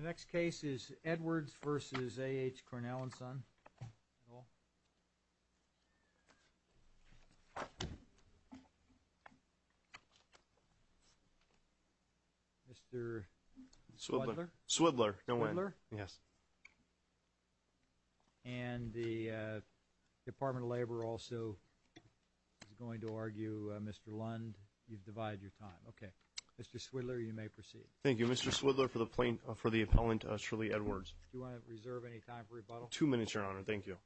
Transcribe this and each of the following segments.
Next case is Edwards v. AHCornelland Son Mr. Swidler and the Department of Labor also is going to argue Mr. Lund, you've divided your time. Okay. Mr. Swidler, you may proceed. Thank you. Mr. Swidler for the plaintiff, for the appellant Shirley Edwards. Do you want to reserve any time for rebuttal? Two minutes, Your Honor. Thank you.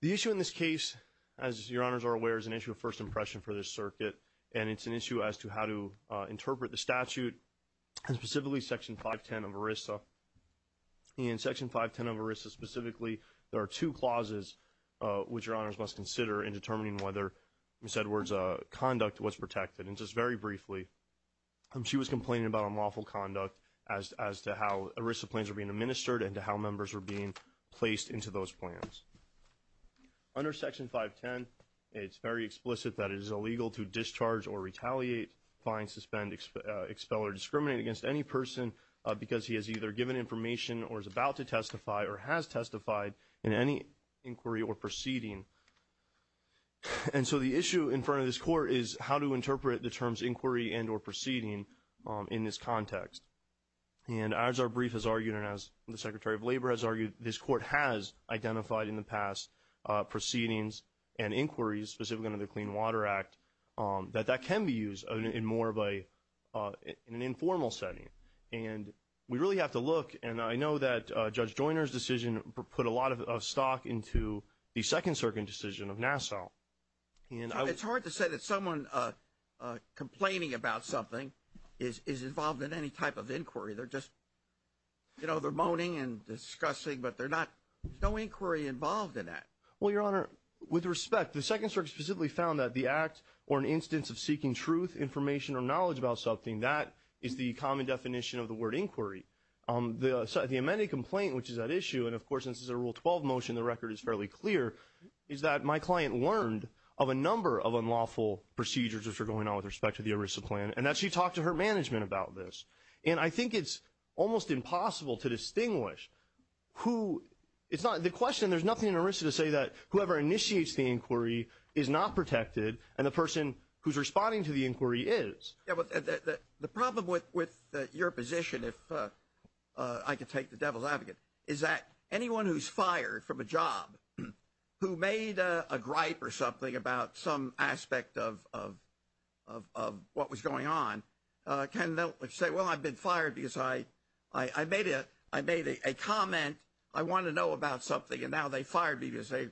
The issue in this case, as Your Honors are aware, is an issue of first impression for this circuit, and it's an issue as to how to interpret the statute, and specifically Section 510 of ERISA. In Section 510 of ERISA specifically, there are two clauses which Your Honors must consider in determining whether Ms. Edwards' conduct was protected. And just very briefly, she was complaining about unlawful conduct as to how ERISA plans were being administered and to how members were being placed into those plans. Under Section 510, it's very explicit that it is illegal to discharge or retaliate, find, suspend, expel, or discriminate against any person because he has either given information or is about to testify or has testified in any inquiry or proceeding. And so the issue in front of this Court is how to interpret the terms inquiry and or proceeding in this context. And as our brief has argued and as the Secretary of Labor has argued, this Court has identified in the past proceedings and inquiries, specifically under the Clean Water Act, that that can be used in more of an informal setting. And we really have to look, and I know that Judge Joyner's decision put a lot of stock into the Second Circuit decision of Nassau. It's hard to say that someone complaining about something is involved in any type of inquiry. I know they're moaning and discussing, but there's no inquiry involved in that. Well, Your Honor, with respect, the Second Circuit specifically found that the act or an instance of seeking truth, information, or knowledge about something, that is the common definition of the word inquiry. The amended complaint, which is at issue, and of course, this is a Rule 12 motion, the record is fairly clear, is that my client learned of a number of unlawful procedures that are going on with respect to the ERISA plan and that she talked to her management about this. And I think it's almost impossible to distinguish who, it's not, the question, there's nothing in ERISA to say that whoever initiates the inquiry is not protected and the person who's responding to the inquiry is. The problem with your position, if I could take the devil's advocate, is that anyone who's fired from a job who made a gripe or something about some aspect of what was going on, can they say, well, I've been fired because I made a comment, I want to know about something, and now they fired me because they're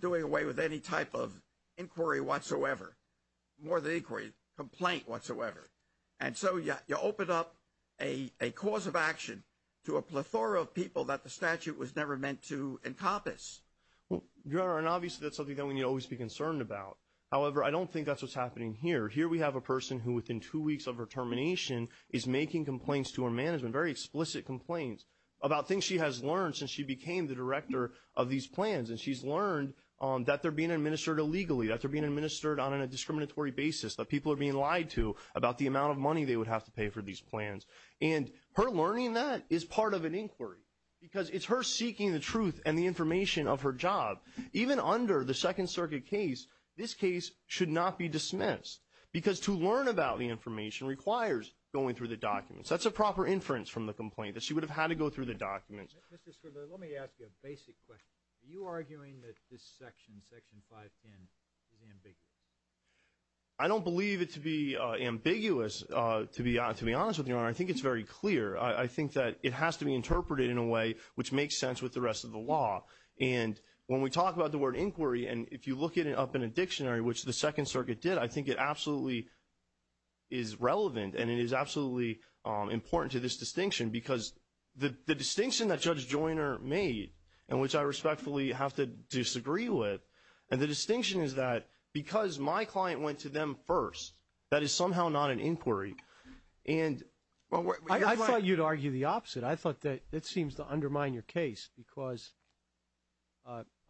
doing away with any type of inquiry whatsoever. More than inquiry, complaint whatsoever. And so you open up a cause of action to a plethora of people that the statute was never meant to encompass. Well, Your Honor, and obviously that's something that we need to always be concerned about. However, I don't think that's what's happening here. Here we have a person who within two weeks of her termination is making complaints to her management, very explicit complaints, about things she has learned since she became the director of these plans. And she's learned that they're being administered illegally, that they're being administered on a discriminatory basis, that people are being lied to about the amount of money they would have to pay for these plans. And her learning that is part of an inquiry. Because it's her seeking the truth and the information of her job. Even under the Second Circuit case, this case should not be dismissed. Because to learn about the information requires going through the documents. That's a proper inference from the complaint, that she would have had to go through the documents. Mr. Svoboda, let me ask you a basic question. Are you arguing that this section, Section 510, is ambiguous? I don't believe it to be ambiguous, to be honest with you, Your Honor. I think it's very clear. I think that it has to be interpreted in a way which makes sense with the rest of the law. And when we talk about the word inquiry, and if you look it up in a dictionary, which the Second Circuit did, I think it absolutely is relevant and it is absolutely important to this distinction. Because the distinction that Judge Joyner made, and which I respectfully have to disagree with, and the distinction is that because my client went to them first, that is somehow not an inquiry. And I thought you'd argue the opposite. I thought that it seems to undermine your case because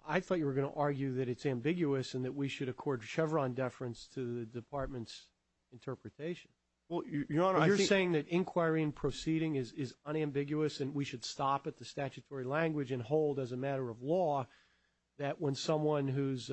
I thought you were going to argue that it's ambiguous and that we should accord Chevron deference to the Department's interpretation. Well, Your Honor, I think... You're saying that inquiry and proceeding is unambiguous and we should stop at the statutory language and hold as a matter of law that when someone who's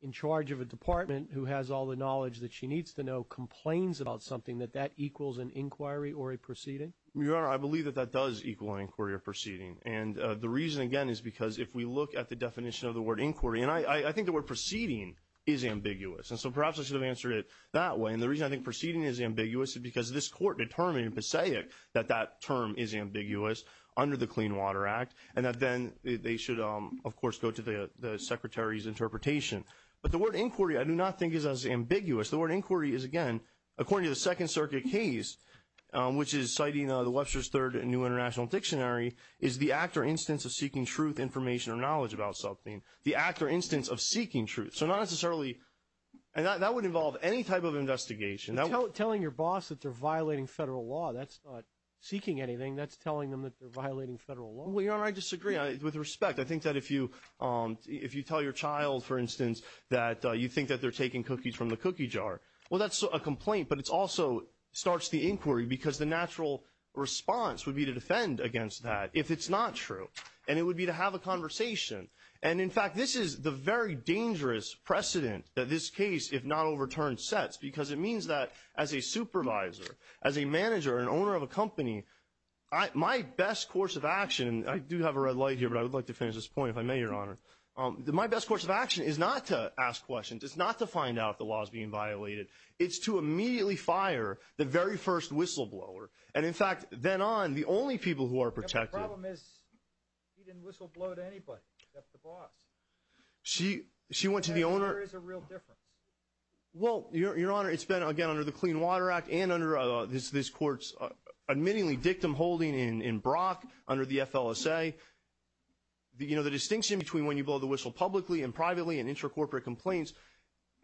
in charge of a department who has all the knowledge that she needs to know complains about something, that that equals an inquiry or a proceeding? Your Honor, I believe that that does equal an inquiry or proceeding. And the reason, again, is because if we look at the definition of the word inquiry, and I think the word proceeding is ambiguous. And so perhaps I should have answered it that way. And the reason I think proceeding is ambiguous is because this Court determined in Passaic that that term is ambiguous under the Clean Water Act, and that then they should, of course, go to the Secretary's interpretation. But the word inquiry I do not think is as ambiguous. The word inquiry is, again, according to the Second Circuit case, which is citing the Webster's Third New International Dictionary, is the act or instance of seeking truth, information, or knowledge about something. The act or instance of seeking truth. So not necessarily... And that would involve any type of investigation. Telling your boss that they're violating federal law, that's not seeking anything. That's telling them that they're violating federal law. Well, Your Honor, I disagree. With respect, I think that if you tell your child, for instance, that you think that they're taking cookies from the cookie jar, well, that's a complaint, but it also starts the inquiry because the natural response would be to defend against that if it's not true. And it would be to have a conversation. And in fact, this is the very dangerous precedent that this case, if not overturned, sets. Because it means that as a supervisor, as a manager, an owner of a company, my best course of action... And I do have a red light here, but I would like to finish this point if I may, Your Honor. My best course of action is not to ask questions. It's not to find out if the law is being violated. It's to immediately fire the very first whistleblower. And in fact, then on, the only people who are protected... The problem is he didn't whistleblow to anybody except the boss. She went to the owner... There is a real difference. Well, Your Honor, it's been, again, under the Clean Water Act and under this court's admittingly dictum holding in Brock under the FLSA. The distinction between when you blow the whistle publicly and privately in intracorporate complaints,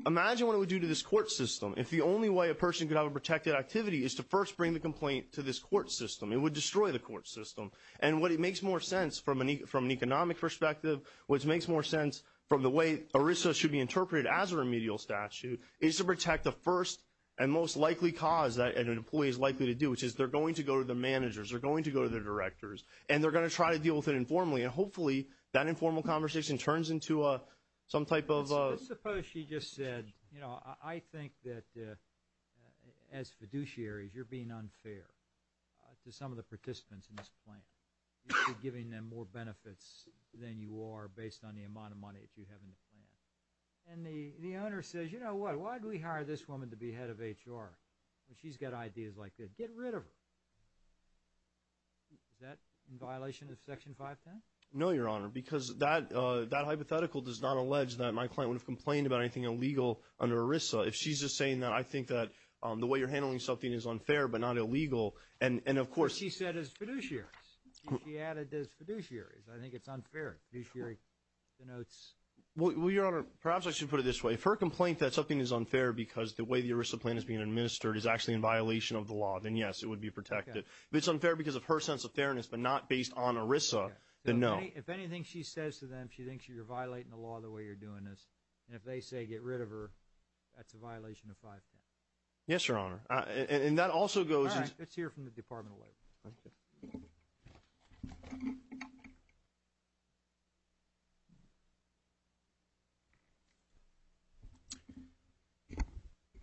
imagine what it would do to this court system if the only way a person could have a protected activity is to first bring the complaint to this court system. It would destroy the court system. And what it makes more sense from an economic perspective, which makes more sense from the way ERISA should be interpreted as a remedial statute, is to protect the first and most likely cause that an employee is likely to do, which is they're going to go to the managers, they're going to go to the directors, and they're going to try to deal with it informally. And hopefully, that informal conversation turns into some type of... Suppose she just said, you know, I think that as fiduciaries, you're being unfair to some of the participants in this plan. You're giving them more benefits than you are based on the amount of money that you have in the plan. And the owner says, you know what, why did we hire this woman to be head of HR when she's got ideas like this? Get rid of her. Is that in violation of Section 510? No, Your Honor. Because that hypothetical does not allege that my client would have complained about anything illegal under ERISA. If she's just saying that, I think that the way you're handling something is unfair but not illegal. And of course... She said as fiduciaries. She added as fiduciaries. I think it's unfair. Fiduciary denotes... Well, Your Honor, perhaps I should put it this way. If her complaint that something is unfair because the way the ERISA plan is being administered is actually in violation of the law, then yes, it would be protected. If it's unfair because of her sense of fairness but not based on ERISA, then no. If anything she says to them, she thinks you're violating the law the way you're doing this, and if they say get rid of her, that's a violation of 510. Yes, Your Honor. And that also goes... All right. Let's hear from the Department of Labor.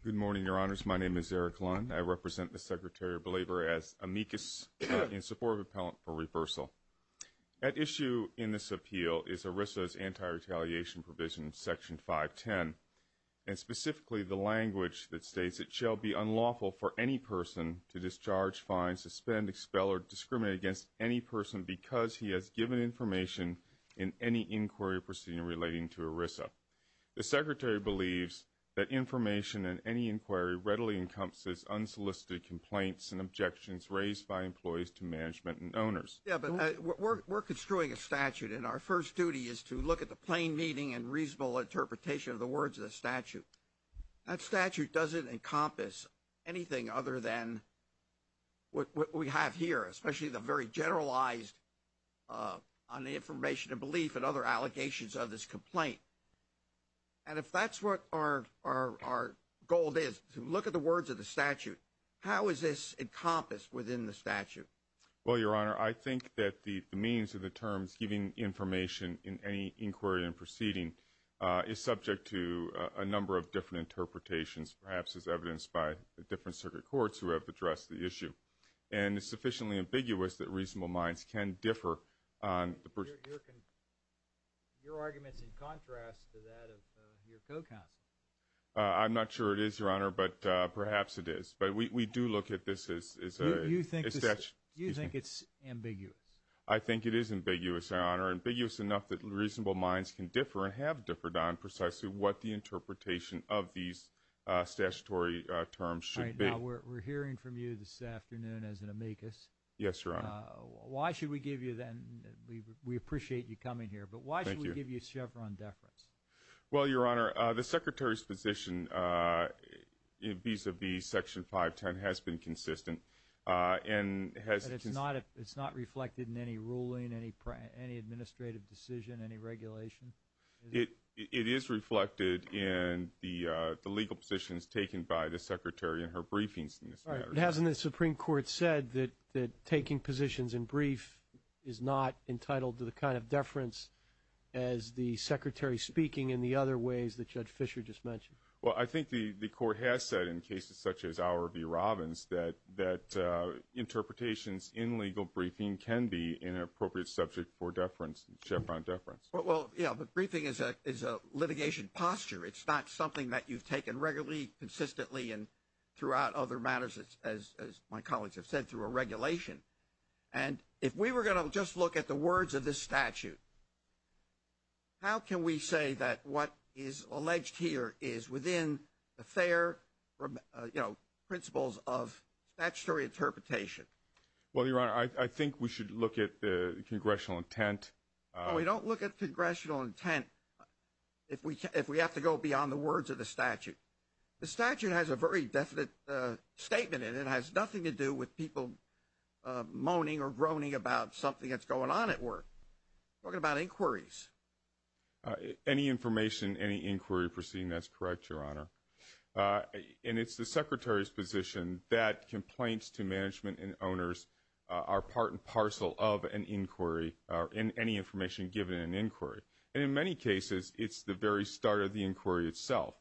Good morning, Your Honors. My name is Eric Lund. I represent the Secretary of Labor as amicus in support of appellant for reversal. At issue in this appeal is ERISA's anti-retaliation provision, Section 510, and specifically the language that states it shall be unlawful for any person to discharge, fine, suspend, expel, or discriminate against any person because he has given information in any inquiry proceeding relating to ERISA. The Secretary believes that information in any inquiry readily encompasses unsolicited complaints and objections raised by employees to management and owners. Yeah, but we're construing a statute, and our first duty is to look at the plain meaning and reasonable interpretation of the words of the statute. That statute doesn't encompass anything other than what we have here, especially the very And if that's what our goal is, to look at the words of the statute, how is this encompassed within the statute? Well, Your Honor, I think that the means of the terms, giving information in any inquiry and proceeding, is subject to a number of different interpretations, perhaps as evidenced by the different circuit courts who have addressed the issue. And it's sufficiently ambiguous that reasonable minds can differ on the... Your argument's in contrast to that of your co-counsel. I'm not sure it is, Your Honor, but perhaps it is. But we do look at this as a statute. You think it's ambiguous? I think it is ambiguous, Your Honor, ambiguous enough that reasonable minds can differ and have differed on precisely what the interpretation of these statutory terms should be. All right, now, we're hearing from you this afternoon as an amicus. Yes, Your Honor. Why should we give you then... We appreciate you coming here, but why should we give you Chevron deference? Well, Your Honor, the Secretary's position vis-a-vis Section 510 has been consistent and has... It's not reflected in any ruling, any administrative decision, any regulation? It is reflected in the legal positions taken by the Secretary in her briefings in this matter. But hasn't the Supreme Court said that taking positions in brief is not entitled to the kind of deference as the Secretary's speaking in the other ways that Judge Fischer just mentioned? Well, I think the Court has said in cases such as our v. Robbins that interpretations in legal briefing can be an appropriate subject for deference, Chevron deference. Well, yeah, but briefing is a litigation posture. It's not something that you've taken regularly, consistently, and throughout other matters, as my colleagues have said, through a regulation. And if we were going to just look at the words of this statute, how can we say that what is alleged here is within the fair principles of statutory interpretation? Well, Your Honor, I think we should look at the congressional intent. No, we don't look at congressional intent if we have to go beyond the words of the statute. The statute has a very definite statement in it. It has nothing to do with people moaning or groaning about something that's going on at work. We're talking about inquiries. Any information, any inquiry proceeding, that's correct, Your Honor. And it's the Secretary's position that complaints to management and owners are part and parcel of an inquiry, or any information given in an inquiry. And in many cases, it's the very start of the inquiry itself.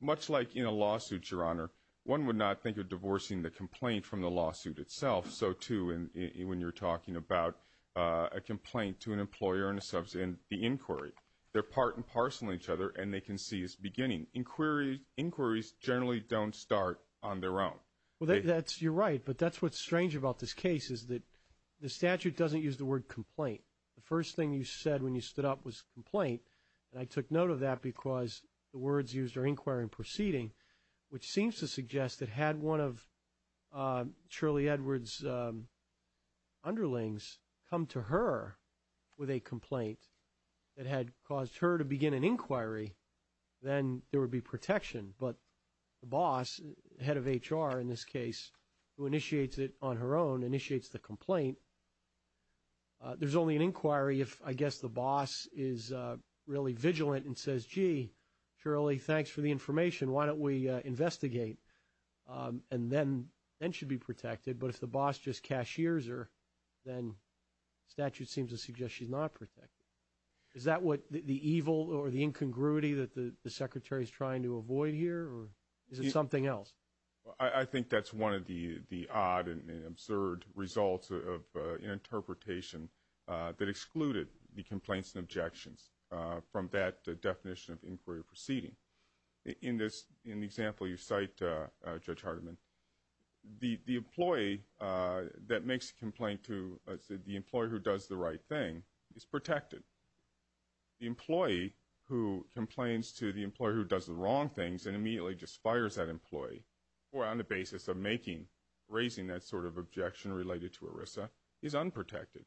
Much like in a lawsuit, Your Honor, one would not think of divorcing the complaint from the lawsuit itself, so too when you're talking about a complaint to an employer and the inquiry. They're part and parcel of each other, and they can see it's beginning. Inquiries generally don't start on their own. You're right, but that's what's strange about this case is that the statute doesn't use the word complaint. The first thing you said when you stood up was complaint, and I took note of that because the words used are inquiry and proceeding, which seems to suggest that had one of Shirley Edwards' underlings come to her with a complaint that had caused her to begin an inquiry, then there would be protection. But the boss, head of HR in this case, who initiates it on her own, initiates the complaint. There's only an inquiry if, I guess, the boss is really vigilant and says, gee, Shirley, thanks for the information. Why don't we investigate? And then she'd be protected. But if the boss just cashiers her, then statute seems to suggest she's not protected. Is that what the evil or the incongruity that the secretary is trying to avoid here, or is it something else? I think that's one of the odd and absurd results of an interpretation that excluded the complaints and objections from that definition of inquiry or proceeding. In the example you cite, Judge Hardiman, the employee that makes the complaint to the employee who does the right thing is protected. The employee who complains to the employer who does the wrong things and immediately just fires that employee, or on the basis of raising that sort of objection related to ERISA, is unprotected.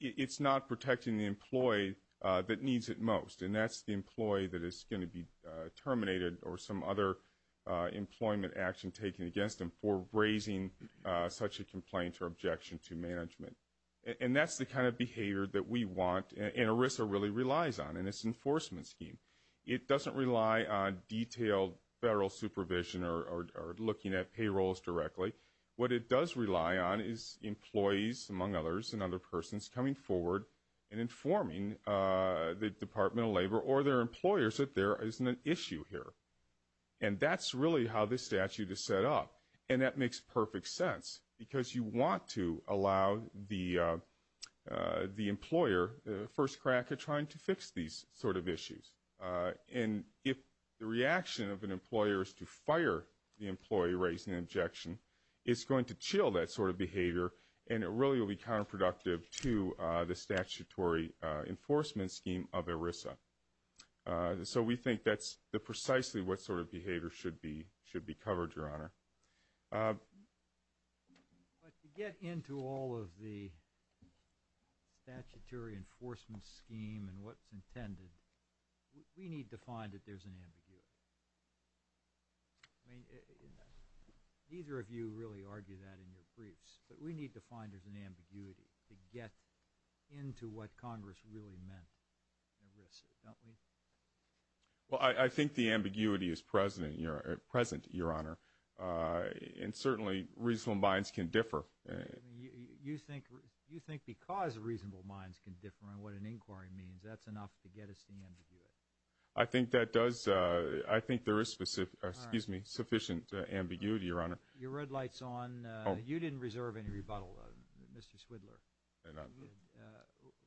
It's not protecting the employee that needs it most, and that's the employee that is going to be terminated or some other employment action taken against them for raising such a complaint or objection to management. And that's the kind of behavior that we want, and ERISA really relies on in its enforcement scheme. It doesn't rely on detailed federal supervision or looking at payrolls directly. What it does rely on is employees, among others, and other persons coming forward and informing the Department of Labor or their employers that there isn't an issue here. And that's really how this statute is set up, and that makes perfect sense, because you want to allow the employer the first crack at trying to fix these sort of issues. And if the reaction of an employer is to fire the employee raising the objection, it's going to chill that sort of behavior, and it really will be counterproductive to the statutory enforcement scheme of ERISA. So we think that's precisely what sort of behavior should be covered, Your Honor. But to get into all of the statutory enforcement scheme and what's intended, we need to find that there's an ambiguity. I mean, neither of you really argue that in your briefs, but we need to find there's an Well, I think the ambiguity is present, Your Honor, and certainly reasonable minds can differ. I mean, you think because reasonable minds can differ on what an inquiry means, that's enough to get us to ambiguate. I think there is sufficient ambiguity, Your Honor. Your red light's on. You didn't reserve any rebuttal, Mr. Swidler.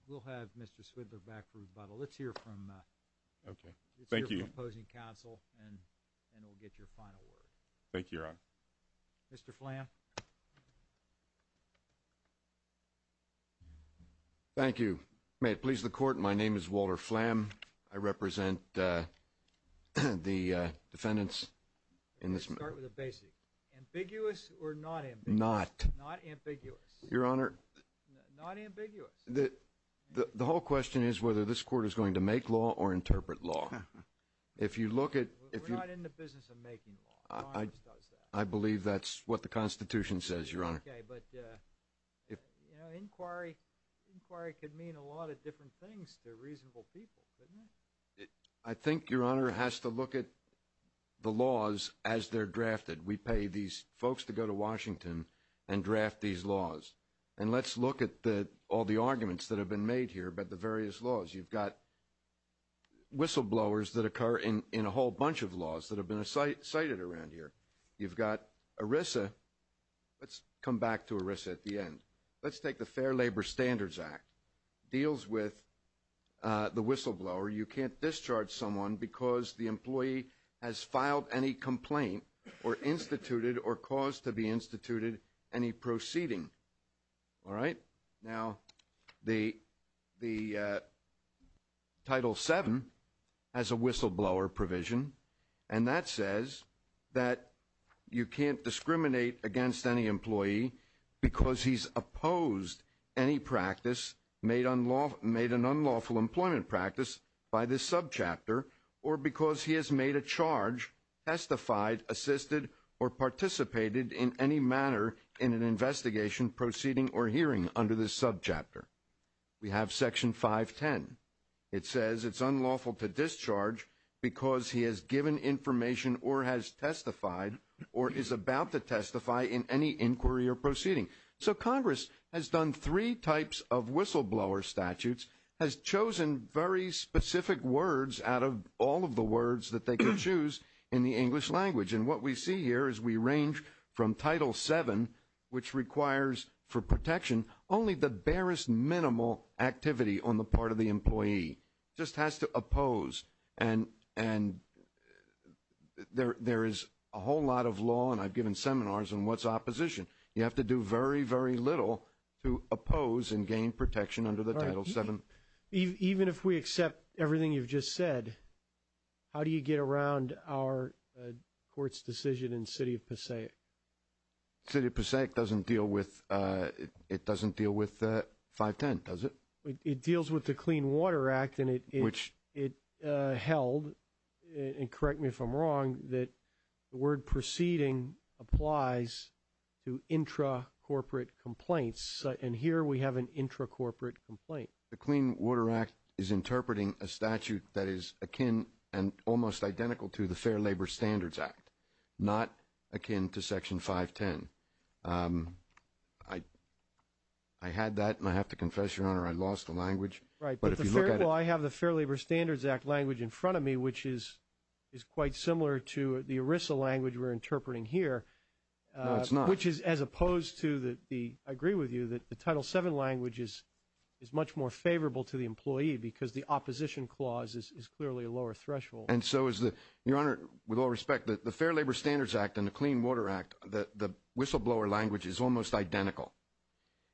We'll have Mr. Swidler back for rebuttal. Let's hear from the opposing counsel, and we'll get your final word. Thank you, Your Honor. Mr. Flam. Thank you. May it please the Court, my name is Walter Flam. I represent the defendants in this matter. Let's start with the basics. Ambiguous or not ambiguous? Not. Not ambiguous. Your Honor. Not ambiguous. The whole question is whether this Court is going to make law or interpret law. If you look at... We're not in the business of making law. The law just does that. I believe that's what the Constitution says, Your Honor. Okay, but, you know, inquiry could mean a lot of different things to reasonable people, couldn't it? I think, Your Honor, it has to look at the laws as they're drafted. We pay these folks to go to Washington and draft these laws. And let's look at all the arguments that have been made here about the various laws. You've got whistleblowers that occur in a whole bunch of laws that have been cited around here. You've got ERISA. Let's come back to ERISA at the end. Let's take the Fair Labor Standards Act. It deals with the whistleblower. You can't discharge someone because the employee has filed any complaint or instituted or caused to be instituted any proceeding. All right? Now, the Title VII has a whistleblower provision, and that says that you can't discriminate against any employee because he's opposed any practice made an unlawful employment practice by this subchapter or because he has made a charge, testified, assisted, or participated in any manner in an investigation, proceeding, or hearing under this subchapter. We have Section 510. It says it's unlawful to discharge because he has given information or has testified or is about to testify in any inquiry or proceeding. So Congress has done three types of whistleblower statutes, has chosen very specific words out of all of the words that they can choose in the English language. And what we see here is we range from Title VII, which requires for protection, only the barest minimal activity on the part of the employee. It just has to oppose. And there is a whole lot of law, and I've given seminars on what's opposition. You have to do very, very little to oppose and gain protection under the Title VII. Even if we accept everything you've just said, how do you get around our court's decision in City of Passaic? City of Passaic doesn't deal with 510, does it? It deals with the Clean Water Act, and it held, and correct me if I'm wrong, that the word proceeding applies to intra-corporate complaints. And here we have an intra-corporate complaint. The Clean Water Act is interpreting a statute that is akin and almost identical to the Fair Labor Standards Act, not akin to Section 510. I had that, and I have to confess, Your Honor, I lost the language. Right. Well, I have the Fair Labor Standards Act language in front of me, which is quite similar to the ERISA language we're interpreting here. No, it's not. Which is as opposed to the, I agree with you, that the Title VII language is much more favorable to the employee because the opposition clause is clearly a lower threshold. And so is the, Your Honor, with all respect, the Fair Labor Standards Act and the Clean Water Act, the whistleblower language is almost identical.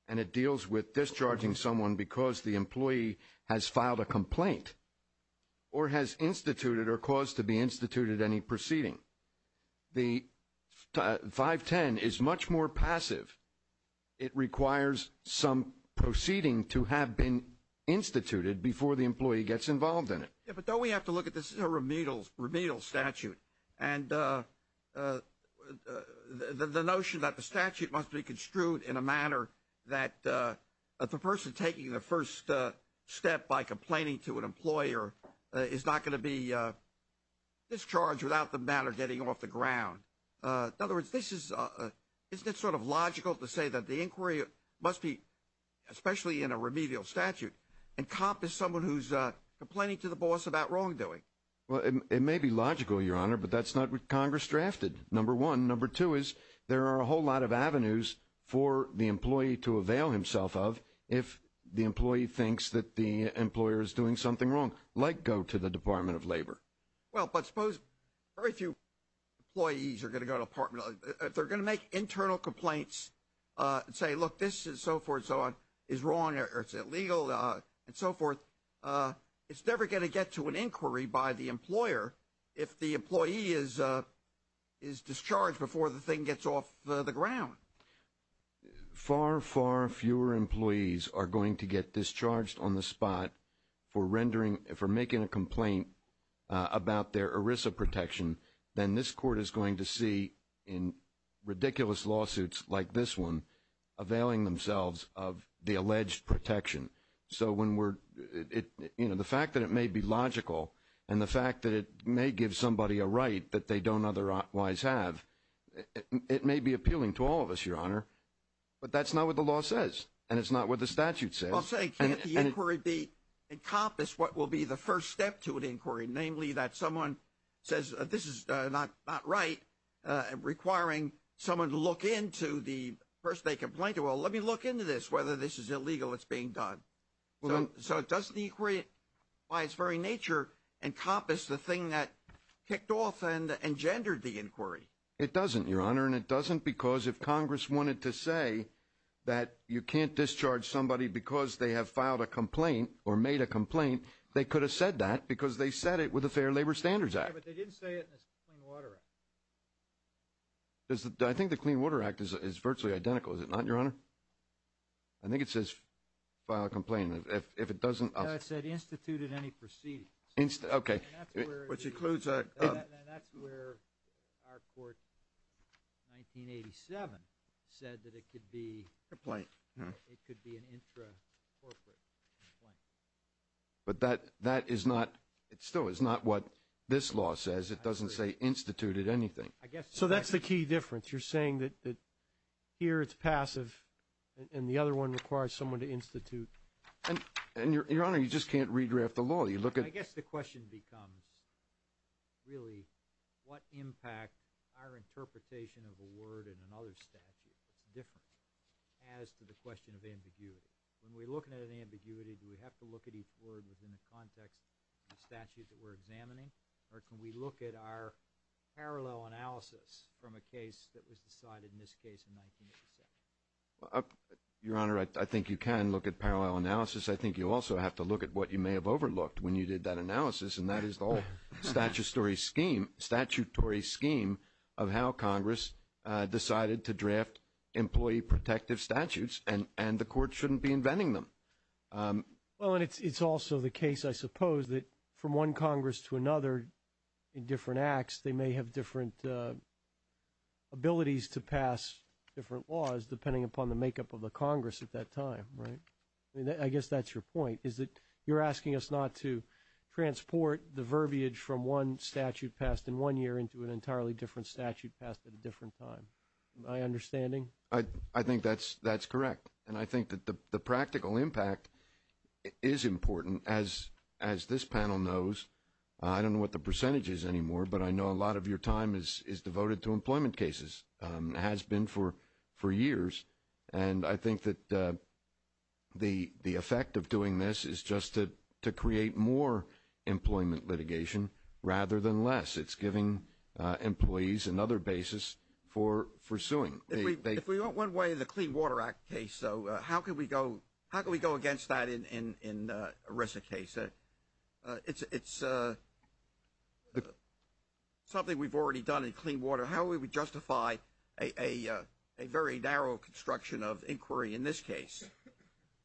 And it deals with discharging someone because the employee has filed a complaint or has instituted or caused to be instituted any proceeding. The 510 is much more passive. It requires some proceeding to have been instituted before the employee gets involved in it. Yeah, but don't we have to look at this? This is a remedial statute. And the notion that the statute must be construed in a manner that the person taking the first step by complaining to an employer is not going to be discharged without the matter getting off the ground. In other words, this is, isn't it sort of logical to say that the inquiry must be, especially in a remedial statute, encompass someone who's complaining to the boss about wrongdoing? Well, it may be logical, Your Honor, but that's not what Congress drafted. Number one. Number two is there are a whole lot of avenues for the employee to avail himself of if the employee thinks that the employer is doing something wrong, like go to the Department of Labor. Well, but suppose very few employees are going to go to the Department of Labor. If they're going to make internal complaints and say, look, this and so forth and so on is wrong or it's illegal and so forth, it's never going to get to an inquiry by the employer if the employee is discharged before the thing gets off the ground. Far, far fewer employees are going to get discharged on the spot for rendering, for making a complaint about their ERISA protection than this court is going to see in ridiculous lawsuits like this one availing themselves of the alleged protection. So when we're, you know, the fact that it may be logical and the fact that it may give somebody a right that they don't otherwise have, it may be appealing to all of us, Your Honor, but that's not what the law says and it's not what the statute says. I'll say, can't the inquiry encompass what will be the first step to an inquiry, namely, that someone says this is not right, requiring someone to look into the person they complained to, well, let me look into this, whether this is illegal, it's being done. So doesn't the inquiry by its very nature encompass the thing that kicked off and engendered the inquiry? It doesn't, Your Honor, and it doesn't because if Congress wanted to say that you can't discharge somebody because they have filed a complaint or made a complaint, they could have said that because they said it with the Fair Labor Standards Act. Yeah, but they didn't say it in the Clean Water Act. I think the Clean Water Act is virtually identical, is it not, Your Honor? I think it says file a complaint. No, it said institute at any proceedings. Okay. And that's where our court in 1987 said that it could be an intra-corporate complaint. But that is not, it still is not what this law says. It doesn't say institute at anything. So that's the key difference. You're saying that here it's passive and the other one requires someone to institute. And, Your Honor, you just can't redraft the law. I guess the question becomes really what impact our interpretation of a word in another statute is different as to the question of ambiguity. When we're looking at ambiguity, do we have to look at each word within the context of the statute that we're examining, or can we look at our parallel analysis from a case that was decided, in this case, in 1987? Your Honor, I think you can look at parallel analysis. I think you also have to look at what you may have overlooked when you did that analysis, and that is the whole statutory scheme of how Congress decided to draft employee protective statutes, and the Court shouldn't be inventing them. Well, and it's also the case, I suppose, that from one Congress to another in different acts, they may have different abilities to pass different laws depending upon the makeup of the Congress at that time. I guess that's your point, is that you're asking us not to transport the verbiage from one statute passed in one year into an entirely different statute passed at a different time. Am I understanding? I think that's correct, and I think that the practical impact is important. As this panel knows, I don't know what the percentage is anymore, but I know a lot of your time is devoted to employment cases, has been for years, and I think that the effect of doing this is just to create more employment litigation rather than less. It's giving employees another basis for suing. If we went one way in the Clean Water Act case, how can we go against that in ERISA case? It's something we've already done in clean water. How would we justify a very narrow construction of inquiry in this case?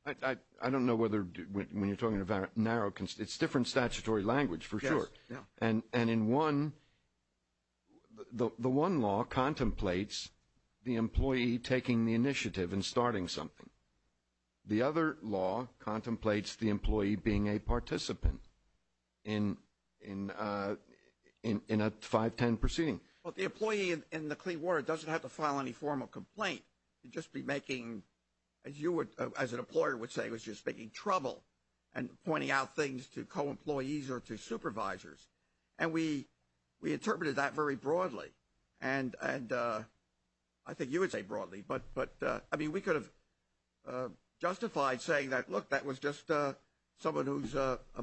I don't know whether when you're talking about narrow, it's different statutory language for sure. And in one, the one law contemplates the employee taking the initiative and starting something. The other law contemplates the employee being a participant in a 510 proceeding. Well, the employee in the clean water doesn't have to file any formal complaint. You'd just be making, as you would, as an employer would say, making trouble and pointing out things to co-employees or to supervisors. And we interpreted that very broadly. And I think you would say broadly. But, I mean, we could have justified saying that, look, that was just someone who's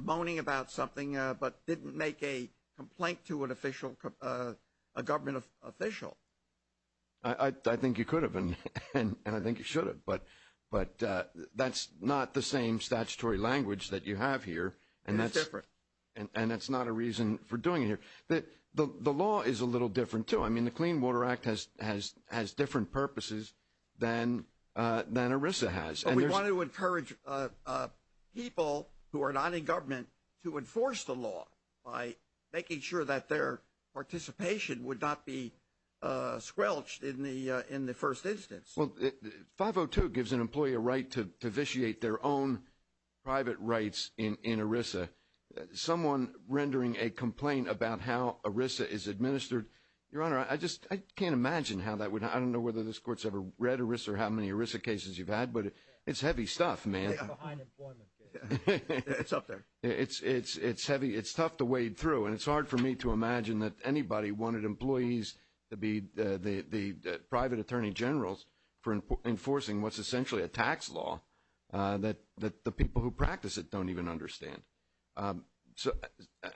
moaning about something but didn't make a complaint to an official, a government official. I think you could have, and I think you should have. But that's not the same statutory language that you have here. It's different. And that's not a reason for doing it here. The law is a little different, too. I mean, the Clean Water Act has different purposes than ERISA has. We want to encourage people who are not in government to enforce the law by making sure that their participation would not be squelched in the first instance. Well, 502 gives an employee a right to vitiate their own private rights in ERISA. Someone rendering a complaint about how ERISA is administered, Your Honor, I just can't imagine how that would happen. I don't know whether this Court's ever read ERISA or how many ERISA cases you've had, but it's heavy stuff, man. It's behind employment cases. It's up there. It's heavy. It's tough to wade through. And it's hard for me to imagine that anybody wanted employees to be the private attorney generals for enforcing what's essentially a tax law that the people who practice it don't even understand. So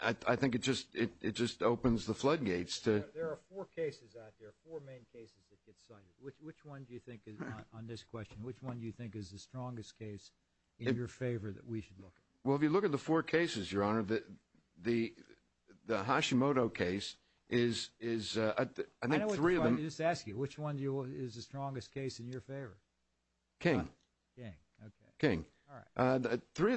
I think it just opens the floodgates. There are four cases out there, four main cases that get cited. Which one do you think is, on this question, which one do you think is the strongest case in your favor that we should look at? Well, if you look at the four cases, Your Honor, the Hashimoto case is, I think, three of them. Let me just ask you, which one is the strongest case in your favor? King. King, okay. King. All right. Three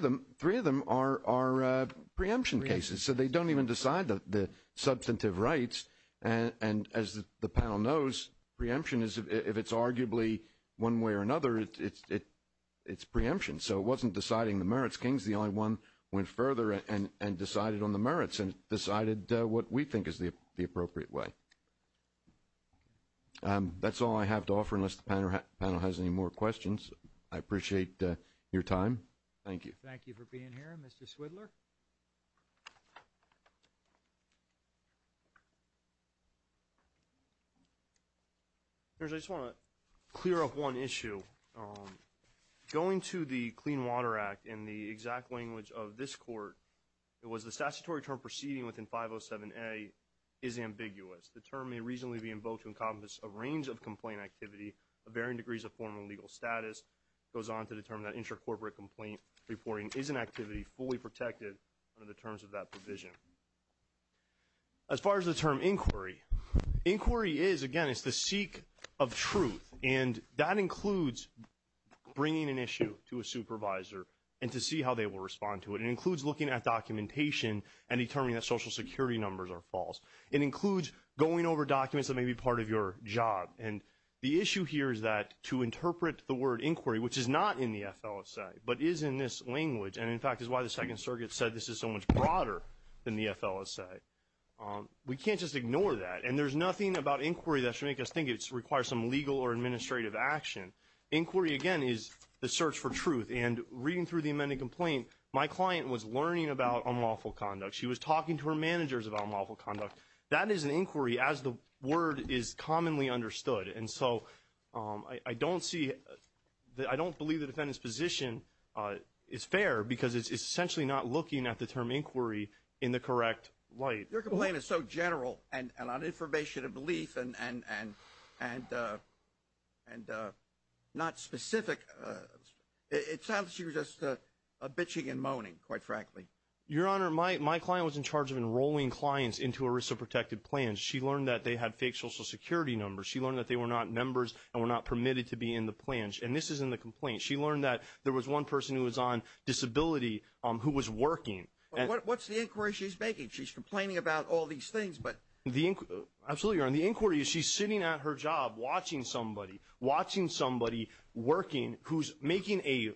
of them are preemption cases, so they don't even decide the substantive rights. And as the panel knows, preemption is, if it's arguably one way or another, it's preemption. So it wasn't deciding the merits. King is the only one who went further and decided on the merits and decided what we think is the appropriate way. That's all I have to offer, unless the panel has any more questions. I appreciate your time. Thank you. Thank you for being here. Mr. Swidler? Your Honor, I just want to clear up one issue. Going to the Clean Water Act in the exact language of this court, it was the statutory term proceeding within 507A is ambiguous. The term may reasonably be in vogue to encompass a range of complaint activity of varying degrees of formal legal status. It goes on to determine that intracorporate complaint reporting is an activity fully protected under the terms of that provision. As far as the term inquiry, inquiry is, again, it's the seek of truth. And that includes bringing an issue to a supervisor and to see how they will respond to it. It includes looking at documentation and determining that Social Security numbers are false. It includes going over documents that may be part of your job. And the issue here is that to interpret the word inquiry, which is not in the FLSA, but is in this language, and in fact is why the Second Circuit said this is so much broader than the FLSA, we can't just ignore that. And there's nothing about inquiry that should make us think it requires some legal or administrative action. Inquiry, again, is the search for truth. And reading through the amended complaint, my client was learning about unlawful conduct. She was talking to her managers about unlawful conduct. That is an inquiry as the word is commonly understood. And so I don't see, I don't believe the defendant's position is fair because it's essentially not looking at the term inquiry in the correct light. Your complaint is so general and on information and belief and not specific. It sounds like she was just bitching and moaning, quite frankly. Your Honor, my client was in charge of enrolling clients into ERISA protected plans. She learned that they had fake Social Security numbers. She learned that they were not members and were not permitted to be in the plans. And this is in the complaint. She learned that there was one person who was on disability who was working. What's the inquiry she's making? She's complaining about all these things. Absolutely, Your Honor. The inquiry is she's sitting at her job watching somebody, watching somebody working who's making a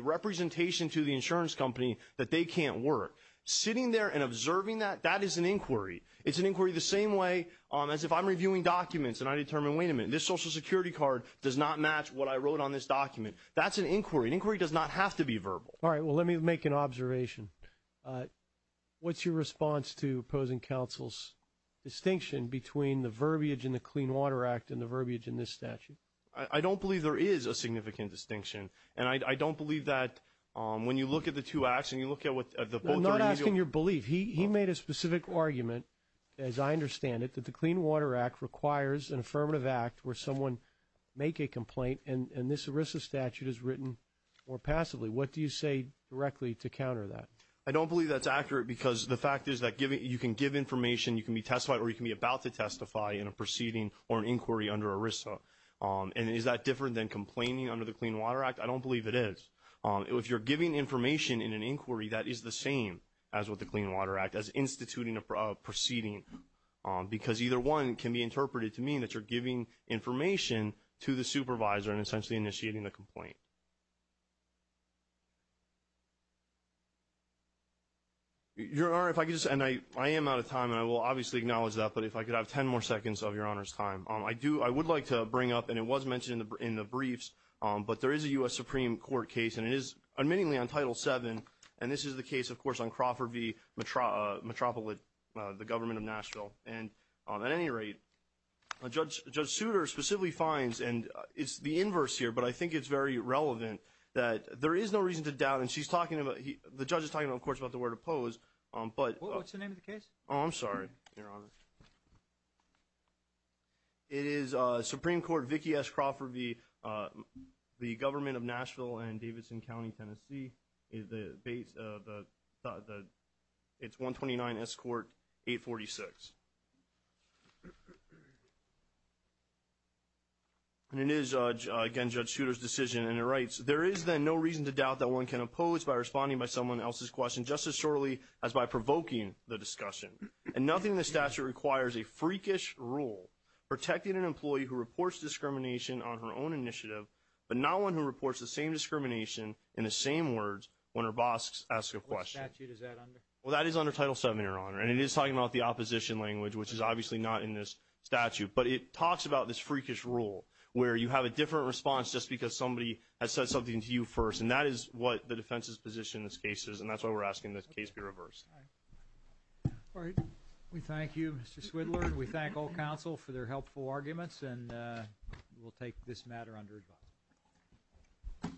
representation to the insurance company that they can't work. Sitting there and observing that, that is an inquiry. It's an inquiry the same way as if I'm reviewing documents and I determine, wait a minute, this Social Security card does not match what I wrote on this document. That's an inquiry. An inquiry does not have to be verbal. All right. Well, let me make an observation. What's your response to opposing counsel's distinction between the verbiage in the Clean Water Act and the verbiage in this statute? I don't believe there is a significant distinction. And I don't believe that when you look at the two acts and you look at what the both are – I'm not asking your belief. He made a specific argument, as I understand it, that the Clean Water Act requires an affirmative act where someone make a complaint, and this ERISA statute is written more passively. What do you say directly to counter that? I don't believe that's accurate because the fact is that you can give information, you can be testified, or you can be about to testify in a proceeding or an inquiry under ERISA. And is that different than complaining under the Clean Water Act? I don't believe it is. If you're giving information in an inquiry, that is the same as with the Clean Water Act, as instituting a proceeding, because either one can be interpreted to mean that you're giving information to the supervisor and essentially initiating the complaint. Your Honor, if I could just – and I am out of time, and I will obviously acknowledge that, but if I could have 10 more seconds of Your Honor's time. I would like to bring up – and it was mentioned in the briefs, but there is a U.S. Supreme Court case, and it is, admittingly, on Title VII, and this is the case, of course, on Crawford v. Metropolit, the government of Nashville. And at any rate, Judge Souter specifically finds – and it's the inverse here, but I think it's very relevant – that there is no reason to doubt, and she's talking about – the judge is talking, of course, about the word oppose, but – What's the name of the case? Oh, I'm sorry, Your Honor. It is Supreme Court Vicki S. Crawford v. the government of Nashville and Davidson County, Tennessee. It's 129 S. Court 846. And it is, again, Judge Souter's decision, and it writes, there is then no reason to doubt that one can oppose by responding by someone else's question, just as surely as by provoking the discussion. And nothing in the statute requires a freakish rule, protecting an employee who reports discrimination on her own initiative, but not one who reports the same discrimination in the same words when her boss asks a question. What statute is that under? Well, that is under Title VII, Your Honor, and it is talking about the opposition language, which is obviously not in this statute, but it talks about this freakish rule, where you have a different response just because somebody has said something to you first, and that is what the defense's position in this case is, and that's why we're asking this case be reversed. All right. We thank you, Mr. Swidler, and we thank all counsel for their helpful arguments, and we'll take this matter under advise.